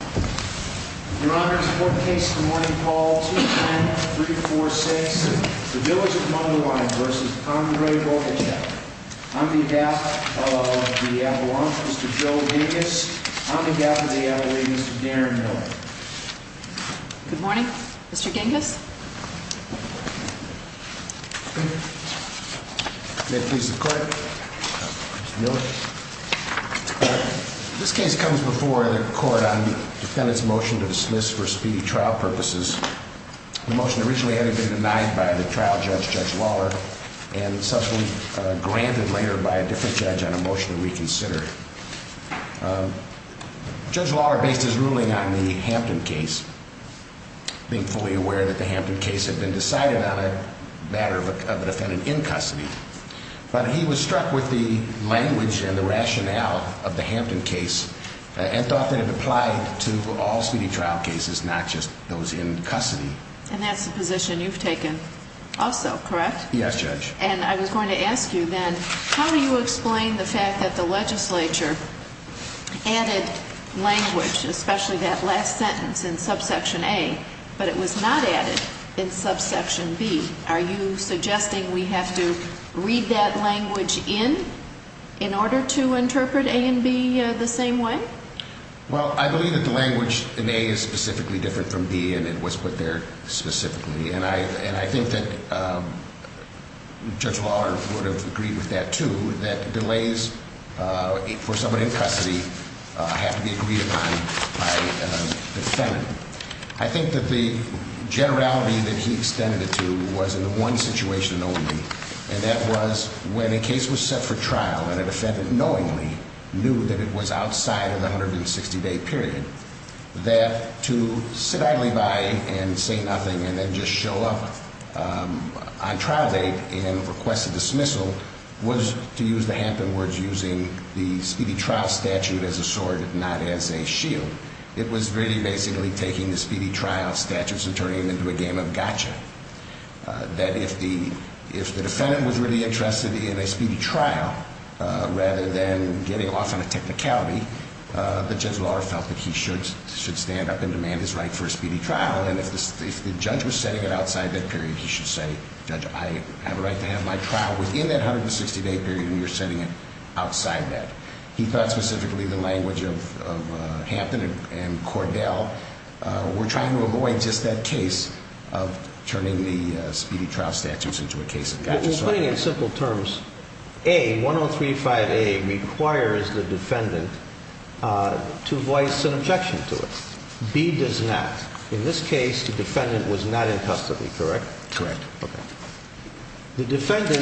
Your Honor, in support of the case of the morning call 210-346, the Villas of Mundelein v. Andre Bogachev. On behalf of the Avalanche, Mr. Joe Genghis, on behalf of the Avalanche, Mr. Darren Miller. Good morning, Mr. Genghis. May it please the Court, Mr. Miller. This case comes before the Court on the defendant's motion to dismiss for speedy trial purposes. The motion originally had to be denied by the trial judge, Judge Lawler, and subsequently granted later by a different judge on a motion to reconsider. Judge Lawler based his ruling on the Hampton case, being fully aware that the Hampton case had been decided on a matter of a defendant in custody. But he was struck with the language and the rationale of the Hampton case and thought that it applied to all speedy trial cases, not just those in custody. And that's the position you've taken also, correct? Yes, Judge. And I was going to ask you then, how do you explain the fact that the legislature added language, especially that last sentence in subsection A, but it was not added in subsection B? Are you suggesting we have to read that language in, in order to interpret A and B the same way? Well, I believe that the language in A is specifically different from B and it was put there specifically. And I think that Judge Lawler would have agreed with that, too, that delays for someone in custody have to be agreed upon by the defendant. I think that the generality that he extended it to was in one situation only. And that was when a case was set for trial and a defendant knowingly knew that it was outside of the 160-day period, that to sit idly by and say nothing and then just show up on trial date and request a dismissal was, to use the Hampton words, using the speedy trial statute as a sword, not as a shield. It was really basically taking the speedy trial statutes and turning them into a game of gotcha, that if the defendant was really interested in a speedy trial rather than getting off on a technicality, that Judge Lawler felt that he should stand up and demand his right for a speedy trial. And if the judge was setting it outside that period, he should say, Judge, I have a right to have my trial within that 160-day period and you're setting it outside that. He thought specifically the language of Hampton and Cordell were trying to avoid just that case of turning the speedy trial statutes into a case of gotcha. We're putting it in simple terms. A, 1035A requires the defendant to voice an objection to it. B does not. In this case, the defendant was not in custody, correct? Correct. Okay. The defendant,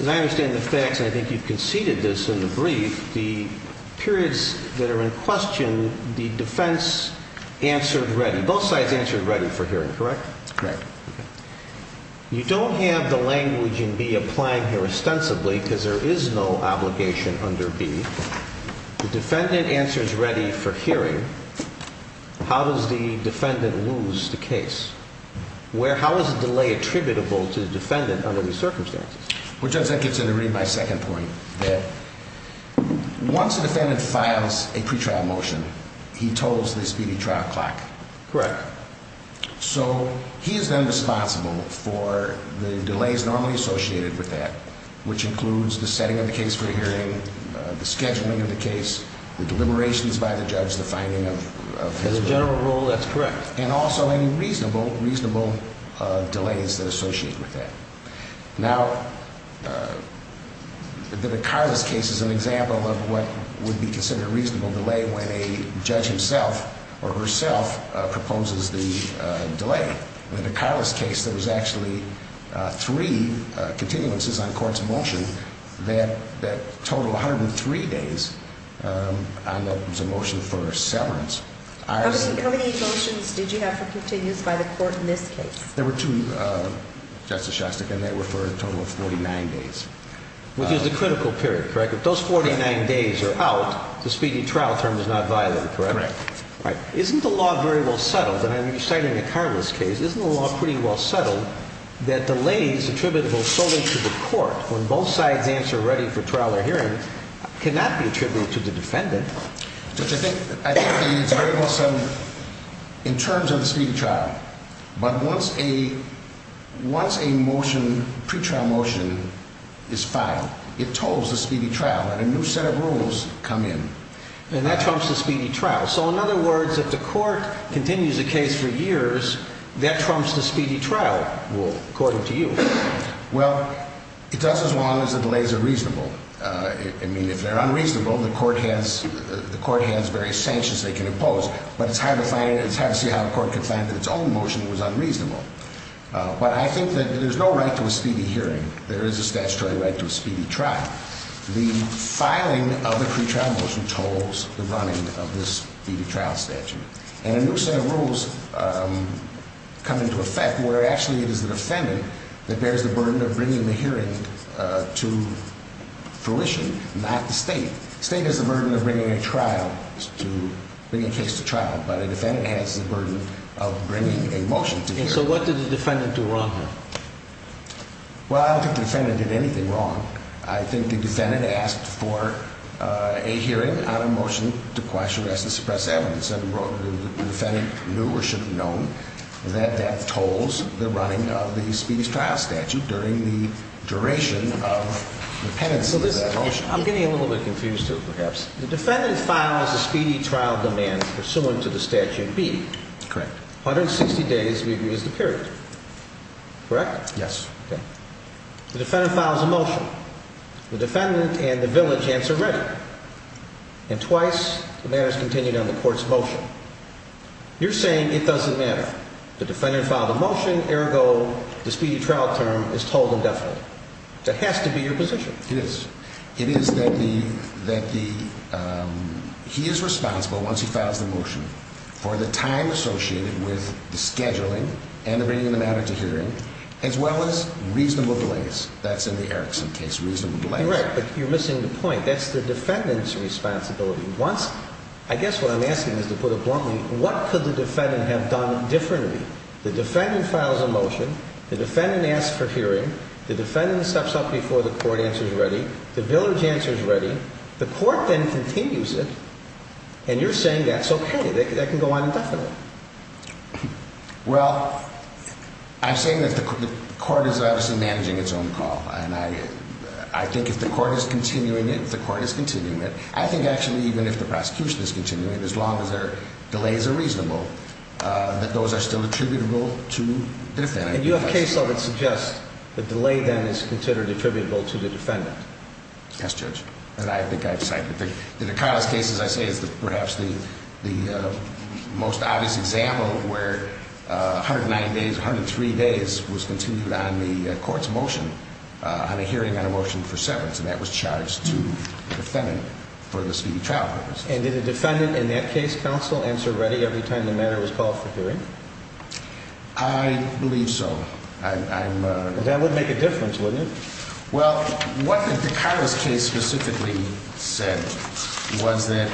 as I understand the facts, and I think you've conceded this in the brief, the periods that are in question, the defense answered ready. Both sides answered ready for hearing, correct? Correct. Okay. You don't have the language in B applying here ostensibly because there is no obligation under B. The defendant answers ready for hearing. How does the defendant lose the case? How is a delay attributable to the defendant under these circumstances? Well, Judge, I get to read my second point, that once a defendant files a pretrial motion, he totals the speedy trial clock. Correct. So he is then responsible for the delays normally associated with that, which includes the setting of the case for hearing, the scheduling of the case, the deliberations by the judge, the finding of his bail. As a general rule, that's correct. And also any reasonable delays that are associated with that. Now, the DeCarlis case is an example of what would be considered a reasonable delay when a judge himself or herself proposes the delay. In the DeCarlis case, there was actually three continuances on court's motion that totaled 103 days, and that was a motion for severance. How many motions did you have for continuance by the court in this case? There were two, Justice Shostak, and they were for a total of 49 days. Which is the critical period, correct? If those 49 days are out, the speedy trial term is not violated, correct? Right. Right. Isn't the law very well settled, and I'm citing the DeCarlis case, isn't the law pretty well settled that delays attributable solely to the court when both sides answer ready for trial or hearing cannot be attributed to the defendant? I think it's very well settled in terms of the speedy trial. But once a motion, pretrial motion, is filed, it totals the speedy trial, and a new set of rules come in. And that trumps the speedy trial. So in other words, if the court continues a case for years, that trumps the speedy trial rule, according to you. Well, it does as long as the delays are reasonable. I mean, if they're unreasonable, the court has various sanctions they can impose. But it's hard to see how a court can find that its own motion was unreasonable. But I think that there's no right to a speedy hearing. There is a statutory right to a speedy trial. The filing of the pretrial motion tolls the running of this speedy trial statute. And a new set of rules come into effect where actually it is the defendant that bears the burden of bringing the hearing to fruition, not the state. The state has the burden of bringing a trial, bringing a case to trial. But a defendant has the burden of bringing a motion to hearing. So what did the defendant do wrong here? Well, I don't think the defendant did anything wrong. I think the defendant asked for a hearing on a motion to quash, arrest, and suppress evidence. And the defendant knew or should have known that that tolls the running of the speedy trial statute during the duration of the pendency of that motion. I'm getting a little bit confused, too, perhaps. The defendant files a speedy trial demand pursuant to the statute B. Correct. 160 days we agree is the period. Correct? Yes. The defendant files a motion. The defendant and the village answer ready. And twice the matter is continued on the court's motion. You're saying it doesn't matter. The defendant filed a motion, ergo the speedy trial term is tolled indefinitely. That has to be your position. It is. My position is that he is responsible, once he files the motion, for the time associated with the scheduling and the bringing of the matter to hearing, as well as reasonable delays. That's in the Erickson case, reasonable delays. Correct. But you're missing the point. That's the defendant's responsibility. I guess what I'm asking is, to put it bluntly, what could the defendant have done differently? The defendant files a motion. The defendant asks for hearing. The defendant steps up before the court answers ready. The village answer is ready. The court then continues it. And you're saying that's okay. That can go on indefinitely. Well, I'm saying that the court is obviously managing its own call. And I think if the court is continuing it, the court is continuing it. I think, actually, even if the prosecution is continuing it, as long as their delays are reasonable, that those are still attributable to the defendant. And you have case law that suggests the delay, then, is considered attributable to the defendant. Yes, Judge. And I think I've cited it. In the Carlos case, as I say, it's perhaps the most obvious example of where 109 days, 103 days was continued on the court's motion, on a hearing on a motion for severance. And that was charged to the defendant for the speedy trial purposes. And did the defendant, in that case, counsel, answer ready every time the matter was called for hearing? I believe so. That would make a difference, wouldn't it? Well, what the Carlos case specifically said was that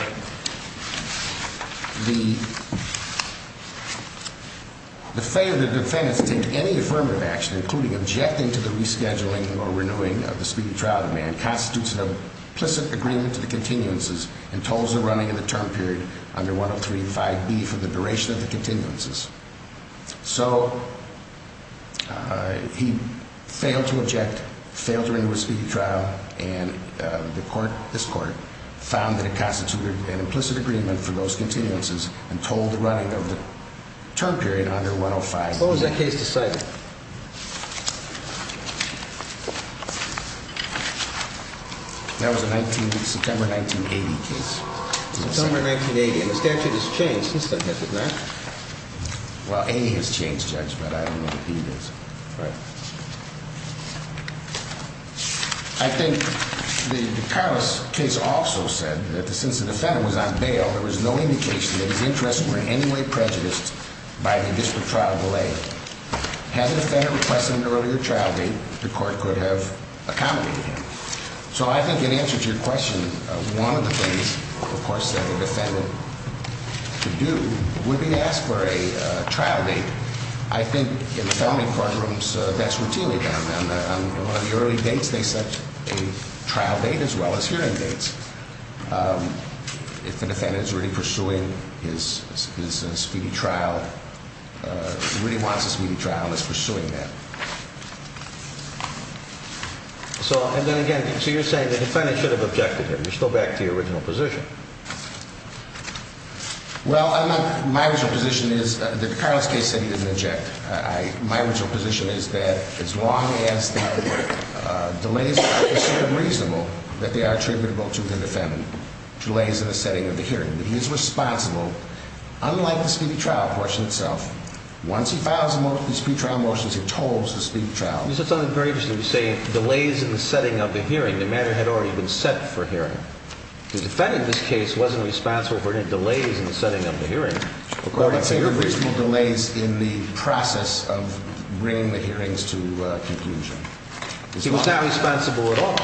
the failure of the defendant to take any affirmative action, including objecting to the rescheduling or renewing of the speedy trial demand, constitutes an implicit agreement to the continuances and tolls the running of the term period under 103.5b for the duration of the continuances. So, he failed to object, failed to renew his speedy trial, and this court found that it constituted an implicit agreement for those continuances and tolled the running of the term period under 105b. What was that case to cite? That was a September 1980 case. September 1980, and the statute has changed since then, has it not? Well, A has changed, Judge, but I don't know what B is. Right. I think the Carlos case also said that since the defendant was on bail, there was no indication that his interests were in any way prejudiced by the district trial delay. Had the defendant requested an earlier trial date, the court could have accommodated him. So, I think in answer to your question, one of the things, of course, that the defendant could do would be to ask for a trial date. I think in felony courtrooms, that's routinely done. On the early dates, they set a trial date as well as hearing dates. If the defendant is really pursuing his speedy trial, really wants a speedy trial and is pursuing that. So, and then again, so you're saying the defendant should have objected him. You're still back to your original position. Well, my original position is that the Carlos case said he didn't object. My original position is that as long as the delays are considered reasonable, that they are attributable to the defendant. Delays in the setting of the hearing. He is responsible, unlike the speedy trial portion itself. Once he files the speedy trial motions, he's told to speedy trial. This is something very interesting. You're saying delays in the setting of the hearing. The matter had already been set for hearing. The defendant in this case wasn't responsible for any delays in the setting of the hearing. According to your original. I'm saying reasonable delays in the process of bringing the hearings to conclusion. He was not responsible at all.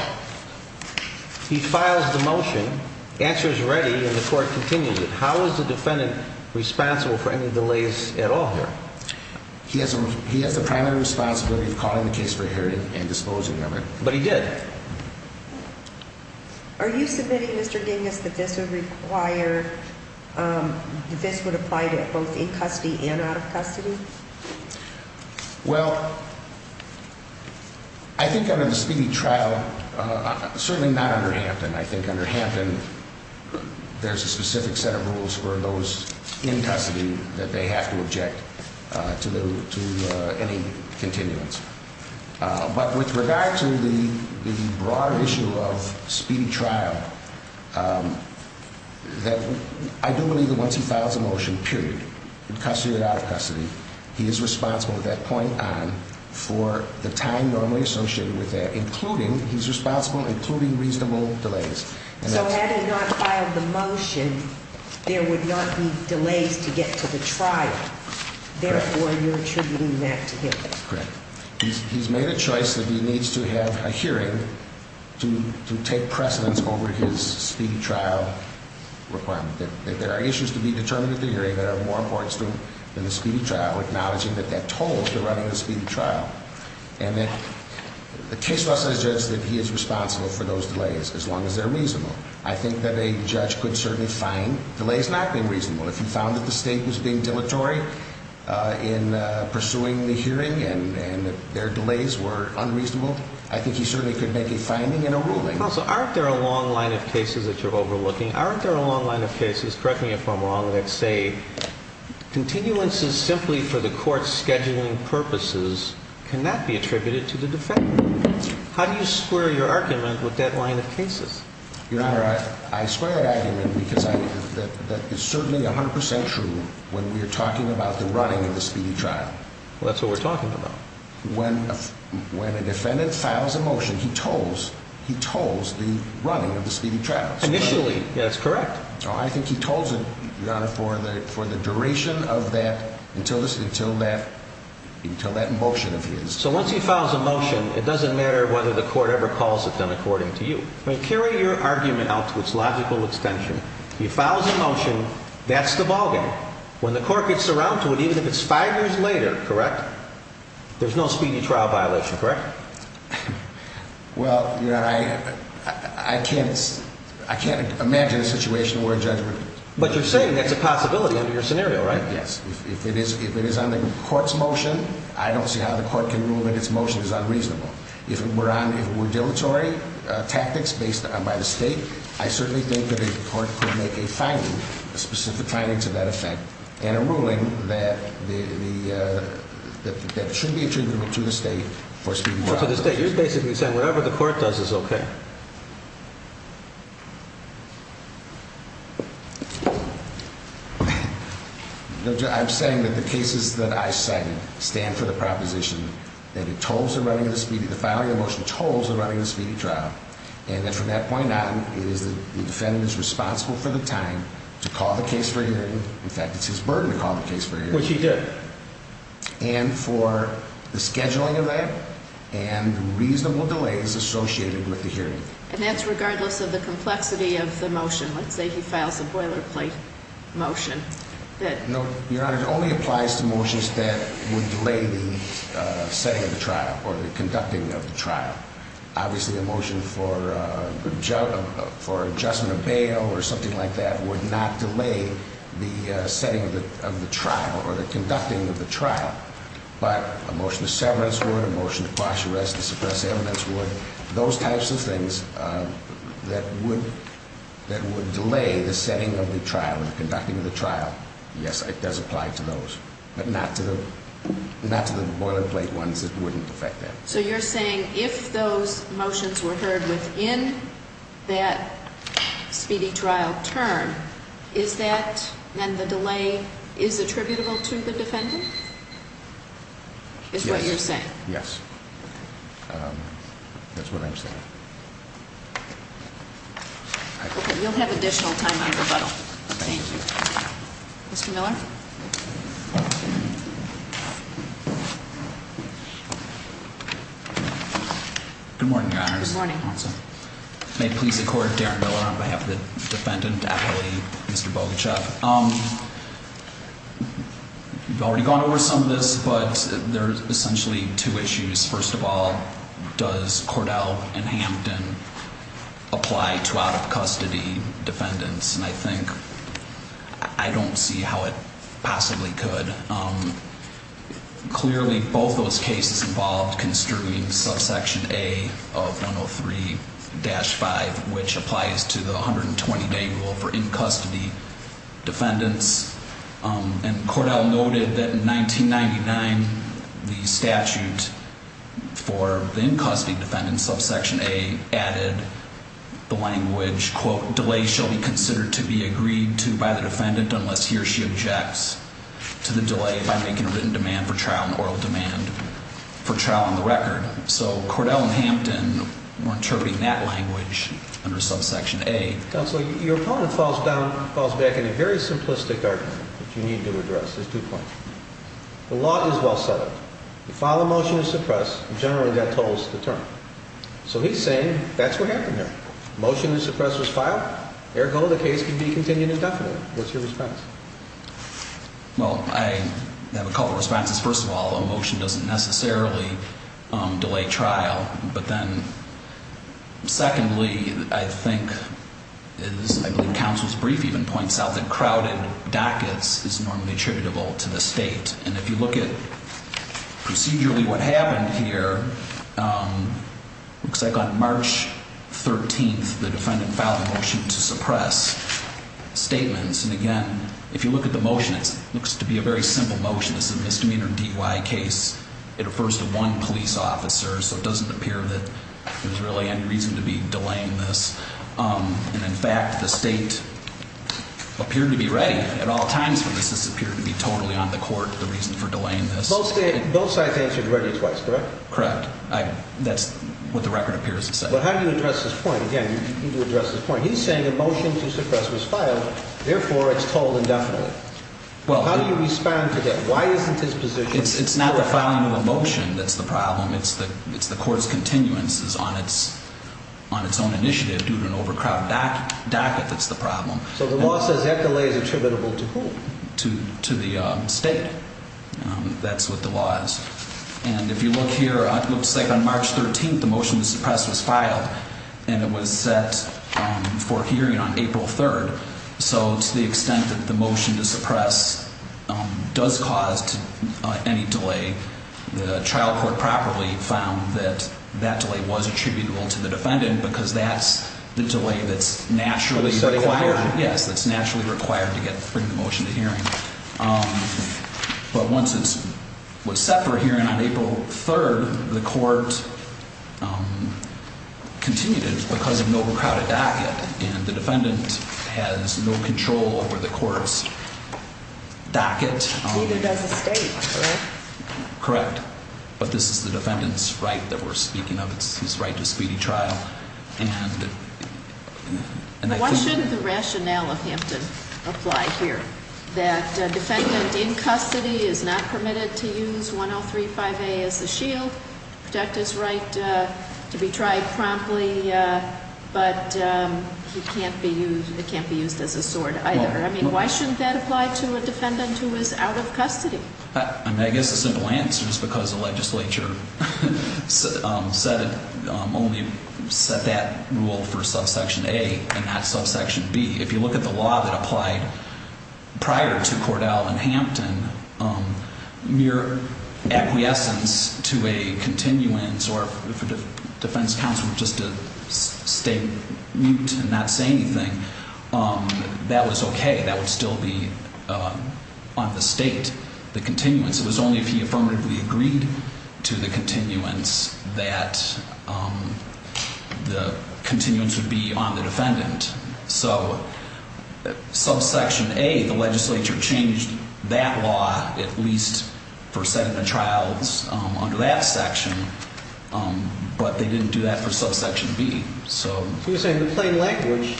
He files the motion. The answer is ready. And the court continues. How is the defendant responsible for any delays at all here? He has the primary responsibility of calling the case for hearing and disposing of it. But he did. Are you submitting, Mr. Dingus, that this would require, that this would apply to both in custody and out of custody? Well, I think under the speedy trial, certainly not under Hampton. I think under Hampton, there's a specific set of rules for those in custody that they have to object to any continuance. But with regard to the broad issue of speedy trial, I do believe that once he files a motion, period, in custody or out of custody, he is responsible at that point on for the time normally associated with that, including, he's responsible, including reasonable delays. So had he not filed the motion, there would not be delays to get to the trial. Therefore, you're attributing that to him. Correct. He's made a choice that he needs to have a hearing to take precedence over his speedy trial requirement. There are issues to be determined at the hearing that are more important than the speedy trial, acknowledging that that tolls the running of the speedy trial. And the case law says that he is responsible for those delays, as long as they're reasonable. I think that a judge could certainly find delays not being reasonable. If he found that the state was being dilatory in pursuing the hearing and their delays were unreasonable, I think he certainly could make a finding and a ruling. Counsel, aren't there a long line of cases that you're overlooking? Aren't there a long line of cases, correct me if I'm wrong, that say continuances simply for the court's scheduling purposes cannot be attributed to the defendant? How do you square your argument with that line of cases? Your Honor, I square that argument because it's certainly 100% true when we're talking about the running of the speedy trial. Well, that's what we're talking about. When a defendant files a motion, he tolls the running of the speedy trial. Initially, that's correct. I think he tolls it, Your Honor, for the duration of that, until that motion of his. So once he files a motion, it doesn't matter whether the court ever calls it done according to you. Carry your argument out to its logical extension. He files a motion. That's the ballgame. When the court gets around to it, even if it's five years later, correct, there's no speedy trial violation, correct? Well, Your Honor, I can't imagine a situation where a judgment... But you're saying that's a possibility under your scenario, right? Yes. If it is on the court's motion, I don't see how the court can rule that its motion is unreasonable. If it were dilatory tactics based on by the state, I certainly think that a court could make a finding, a specific finding to that effect, and a ruling that should be attributable to the state for speedy trial violations. So to the state, you're basically saying whatever the court does is okay. I'm saying that the cases that I cited stand for the proposition that it tolls the running of the speedy, the filing of the motion tolls the running of the speedy trial, and that from that point on, it is the defendant's responsible for the time to call the case for hearing. In fact, it's his burden to call the case for hearing. Which he did. And for the scheduling of that and reasonable delays associated with the hearing. And that's regardless of the complexity of the motion. Let's say he files a boilerplate motion that... No, Your Honor. It only applies to motions that would delay the setting of the trial or the conducting of the trial. Obviously, a motion for adjustment of bail or something like that would not delay the setting of the trial or the conducting of the trial. But a motion to severance would, a motion to quash arrest, to suppress evidence would. Those types of things that would delay the setting of the trial or the conducting of the trial. Yes, it does apply to those. But not to the boilerplate ones. It wouldn't affect that. So you're saying if those motions were heard within that speedy trial term, is that, then the delay is attributable to the defendant? Yes. Is what you're saying? Yes. That's what I'm saying. Okay, you'll have additional time on rebuttal. Thank you. Mr. Miller? Good morning, Your Honors. Good morning. May it please the Court, Darren Miller on behalf of the defendant, appellee, Mr. Bogachev. We've already gone over some of this, but there's essentially two issues. First of all, does Cordell and Hampton apply to out-of-custody defendants? And I think I don't see how it possibly could. Clearly both those cases involved construing subsection A of 103-5, which applies to the 120-day rule for in-custody defendants. And Cordell noted that in 1999, the statute for the in-custody defendants, subsection A, added the language, quote, delay shall be considered to be agreed to by the defendant unless he or she objects to the delay by making a written demand for trial and oral demand for trial on the record. So Cordell and Hampton were interpreting that language under subsection A. Counsel, your opponent falls back on a very simplistic argument that you need to address. There's two points. The law is well set up. You file a motion to suppress, and generally that totals the term. So he's saying that's what happened there. Motion to suppress was filed. Eric Cordell, the case can be continued indefinitely. What's your response? Well, I have a couple of responses. First of all, the motion doesn't necessarily delay trial. But then secondly, I think, I believe counsel's brief even points out that crowded dockets is normally attributable to the state. And if you look at procedurally what happened here, looks like on March 13th the defendant filed a motion to suppress statements. And again, if you look at the motion, it looks to be a very simple motion. It's a misdemeanor DUI case. It refers to one police officer. So it doesn't appear that there's really any reason to be delaying this. And in fact, the state appeared to be ready at all times for this. This appeared to be totally on the court, the reason for delaying this. Both sides answered ready twice, correct? Correct. That's what the record appears to say. But how do you address this point? Again, you need to address this point. He's saying a motion to suppress was filed. Therefore, it's totaled indefinitely. How do you respond to that? Why isn't his position? It's not the filing of a motion that's the problem. It's the court's continuance on its own initiative due to an overcrowded docket that's the problem. So the law says that delay is attributable to who? To the state. That's what the law is. And if you look here, it looks like on March 13th the motion to suppress was filed. And it was set for hearing on April 3rd. So to the extent that the motion to suppress does cause any delay, the trial court properly found that that delay was attributable to the defendant because that's the delay that's naturally required. Yes, that's naturally required to bring the motion to hearing. But once it was set for hearing on April 3rd, the court continued it because of an overcrowded docket. And the defendant has no control over the court's docket. Neither does the state, correct? Correct. But this is the defendant's right that we're speaking of. It's his right to speedy trial. But why shouldn't the rationale of Hampton apply here? That a defendant in custody is not permitted to use 1035A as a shield, protect his right to be tried promptly, but it can't be used as a sword either. I mean, why shouldn't that apply to a defendant who is out of custody? I mean, I guess the simple answer is because the legislature only set that rule for subsection A and not subsection B. If you look at the law that applied prior to Cordell and Hampton, mere acquiescence to a continuance or if a defense counsel were just to stay mute and not say anything, that was okay. That would still be on the state, the continuance. It was only if he affirmatively agreed to the continuance that the continuance would be on the defendant. So subsection A, the legislature changed that law at least for settlement of trials under that section, but they didn't do that for subsection B. So you're saying the plain language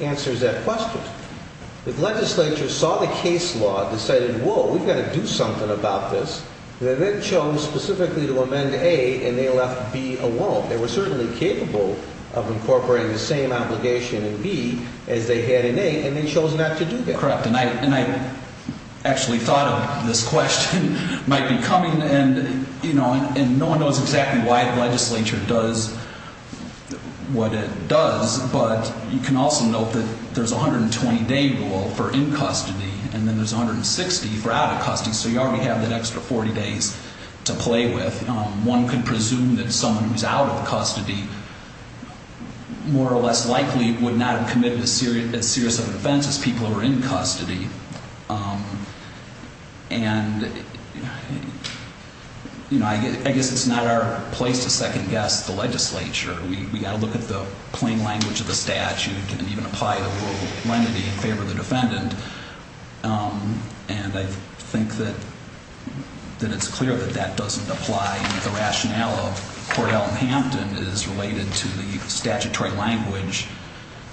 answers that question. The legislature saw the case law, decided, whoa, we've got to do something about this. They then chose specifically to amend A and they left B alone. They were certainly capable of incorporating the same obligation in B as they had in A, and they chose not to do that. Correct, and I actually thought of this question might be coming, and no one knows exactly why the legislature does what it does, but you can also note that there's a 120-day rule for in custody and then there's 160 for out of custody. So you already have that extra 40 days to play with. One could presume that someone who's out of custody more or less likely would not have committed as serious of an offense as people who are in custody. And, you know, I guess it's not our place to second guess the legislature. We've got to look at the plain language of the statute and even apply the rule of lenity in favor of the defendant. And I think that it's clear that that doesn't apply. The rationale of Court Elton Hampton is related to the statutory language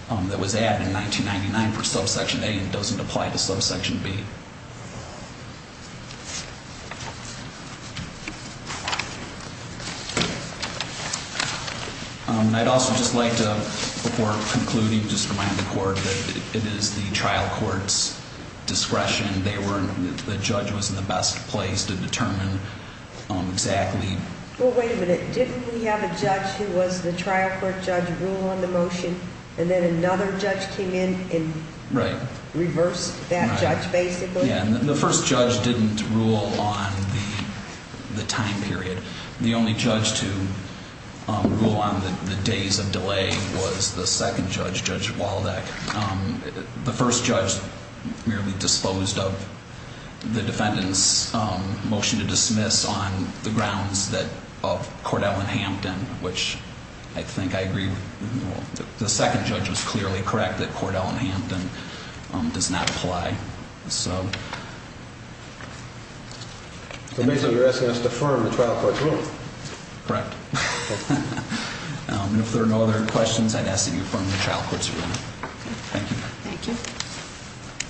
that was added in 1999 for subsection A and doesn't apply to subsection B. I'd also just like to, before concluding, just remind the court that it is the trial court's discretion. The judge was in the best place to determine exactly. Well, wait a minute. Didn't we have a judge who was the trial court judge rule on the motion and then another judge came in and reversed that judge basically? The first judge didn't rule on the time period. The only judge to rule on the days of delay was the second judge, Judge Waldeck. The first judge merely disposed of the defendant's motion to dismiss on the grounds that of Court Elton Hampton, which I think I agree with. The second judge was clearly correct that Court Elton Hampton does not apply. So basically, you're asking us to affirm the trial court's rule. Correct. And if there are no other questions, I'd ask that you affirm the trial court's rule. Thank you. Thank you.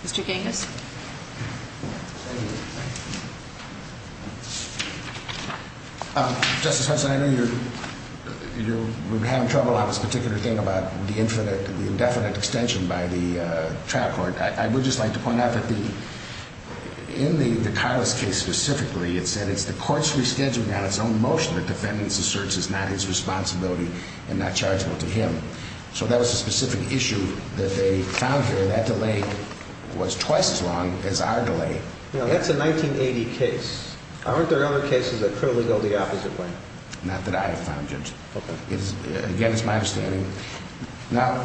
Mr. Genghis. Justice Hudson, I know you're having trouble on this particular thing about the infinite, the indefinite extension by the trial court. I would just like to point out that in the Carlos case specifically, it said it's the court's rescheduling on its own motion that defendants asserts is not his responsibility and not chargeable to him. So that was a specific issue that they found here. That delay was twice as long as our delay. That's a 1980 case. Aren't there other cases that clearly go the opposite way? Not that I have found, Judge. Again, it's my understanding. Now,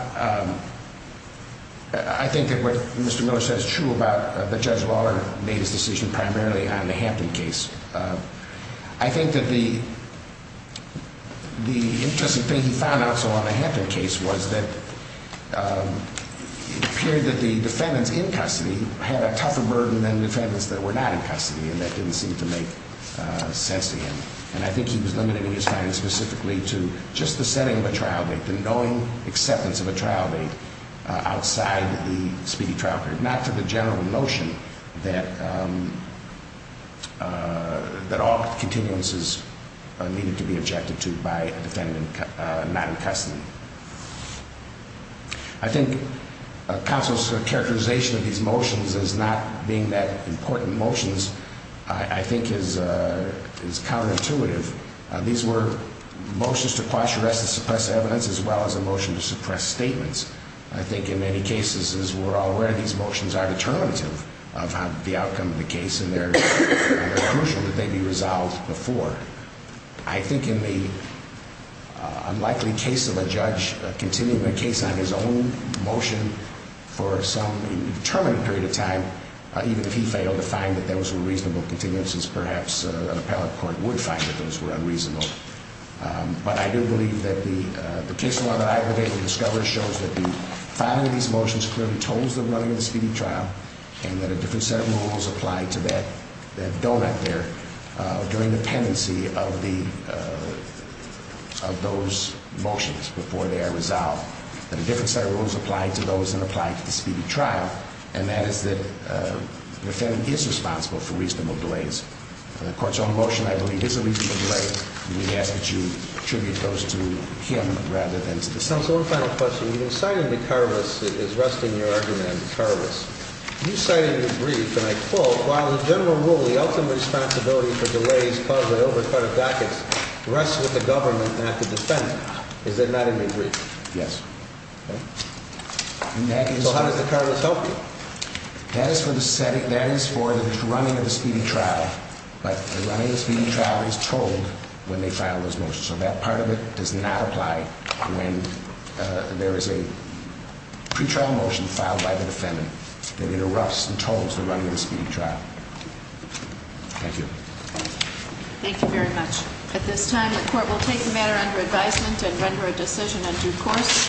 I think that what Mr. Miller says is true about that Judge Lawler made his decision primarily on the Hampton case. I think that the interesting thing he found also on the Hampton case was that it appeared that the defendants in custody had a tougher burden than defendants that were not in custody, and that didn't seem to make sense to him. And I think he was limiting his findings specifically to just the setting of a trial date, the knowing acceptance of a trial date outside the speedy trial period, not to the general notion that all continuances needed to be objected to by a defendant not in custody. I think counsel's characterization of these motions as not being that important motions I think is counterintuitive. These were motions to quash arrests and suppress evidence as well as a motion to suppress statements. I think in many cases, as we're all aware, these motions are determinative of the outcome of the case, and they're crucial that they be resolved before. I think in the unlikely case of a judge continuing a case on his own motion for some determinative period of time, even if he failed to find that those were reasonable continuances, perhaps an appellate court would find that those were unreasonable. But I do believe that the case law that I have been able to discover shows that the filing of these motions clearly told the running of the speedy trial and that a different set of rules apply to that donut there during the pendency of those motions before they are resolved. That a different set of rules apply to those that apply to the speedy trial, and that is that the defendant is responsible for reasonable delays. The court's own motion, I believe, is a reasonable delay, and we ask that you attribute those to him rather than to the defendant. So one final question. When you cited McArvis, it is resting your argument on McArvis. You cited McReef, and I quote, while the general rule, the ultimate responsibility for delays caused by overcrowded dockets rests with the government, not the defendant. Is that not in McReef? Yes. Okay. So how does McArvis help you? That is for the running of the speedy trial, but the running of the speedy trial is told when they file those motions. So that part of it does not apply when there is a pretrial motion filed by the defendant that interrupts and tells the running of the speedy trial. Thank you. Thank you very much. At this time, the court will take the matter under advisement and render a decision on due course.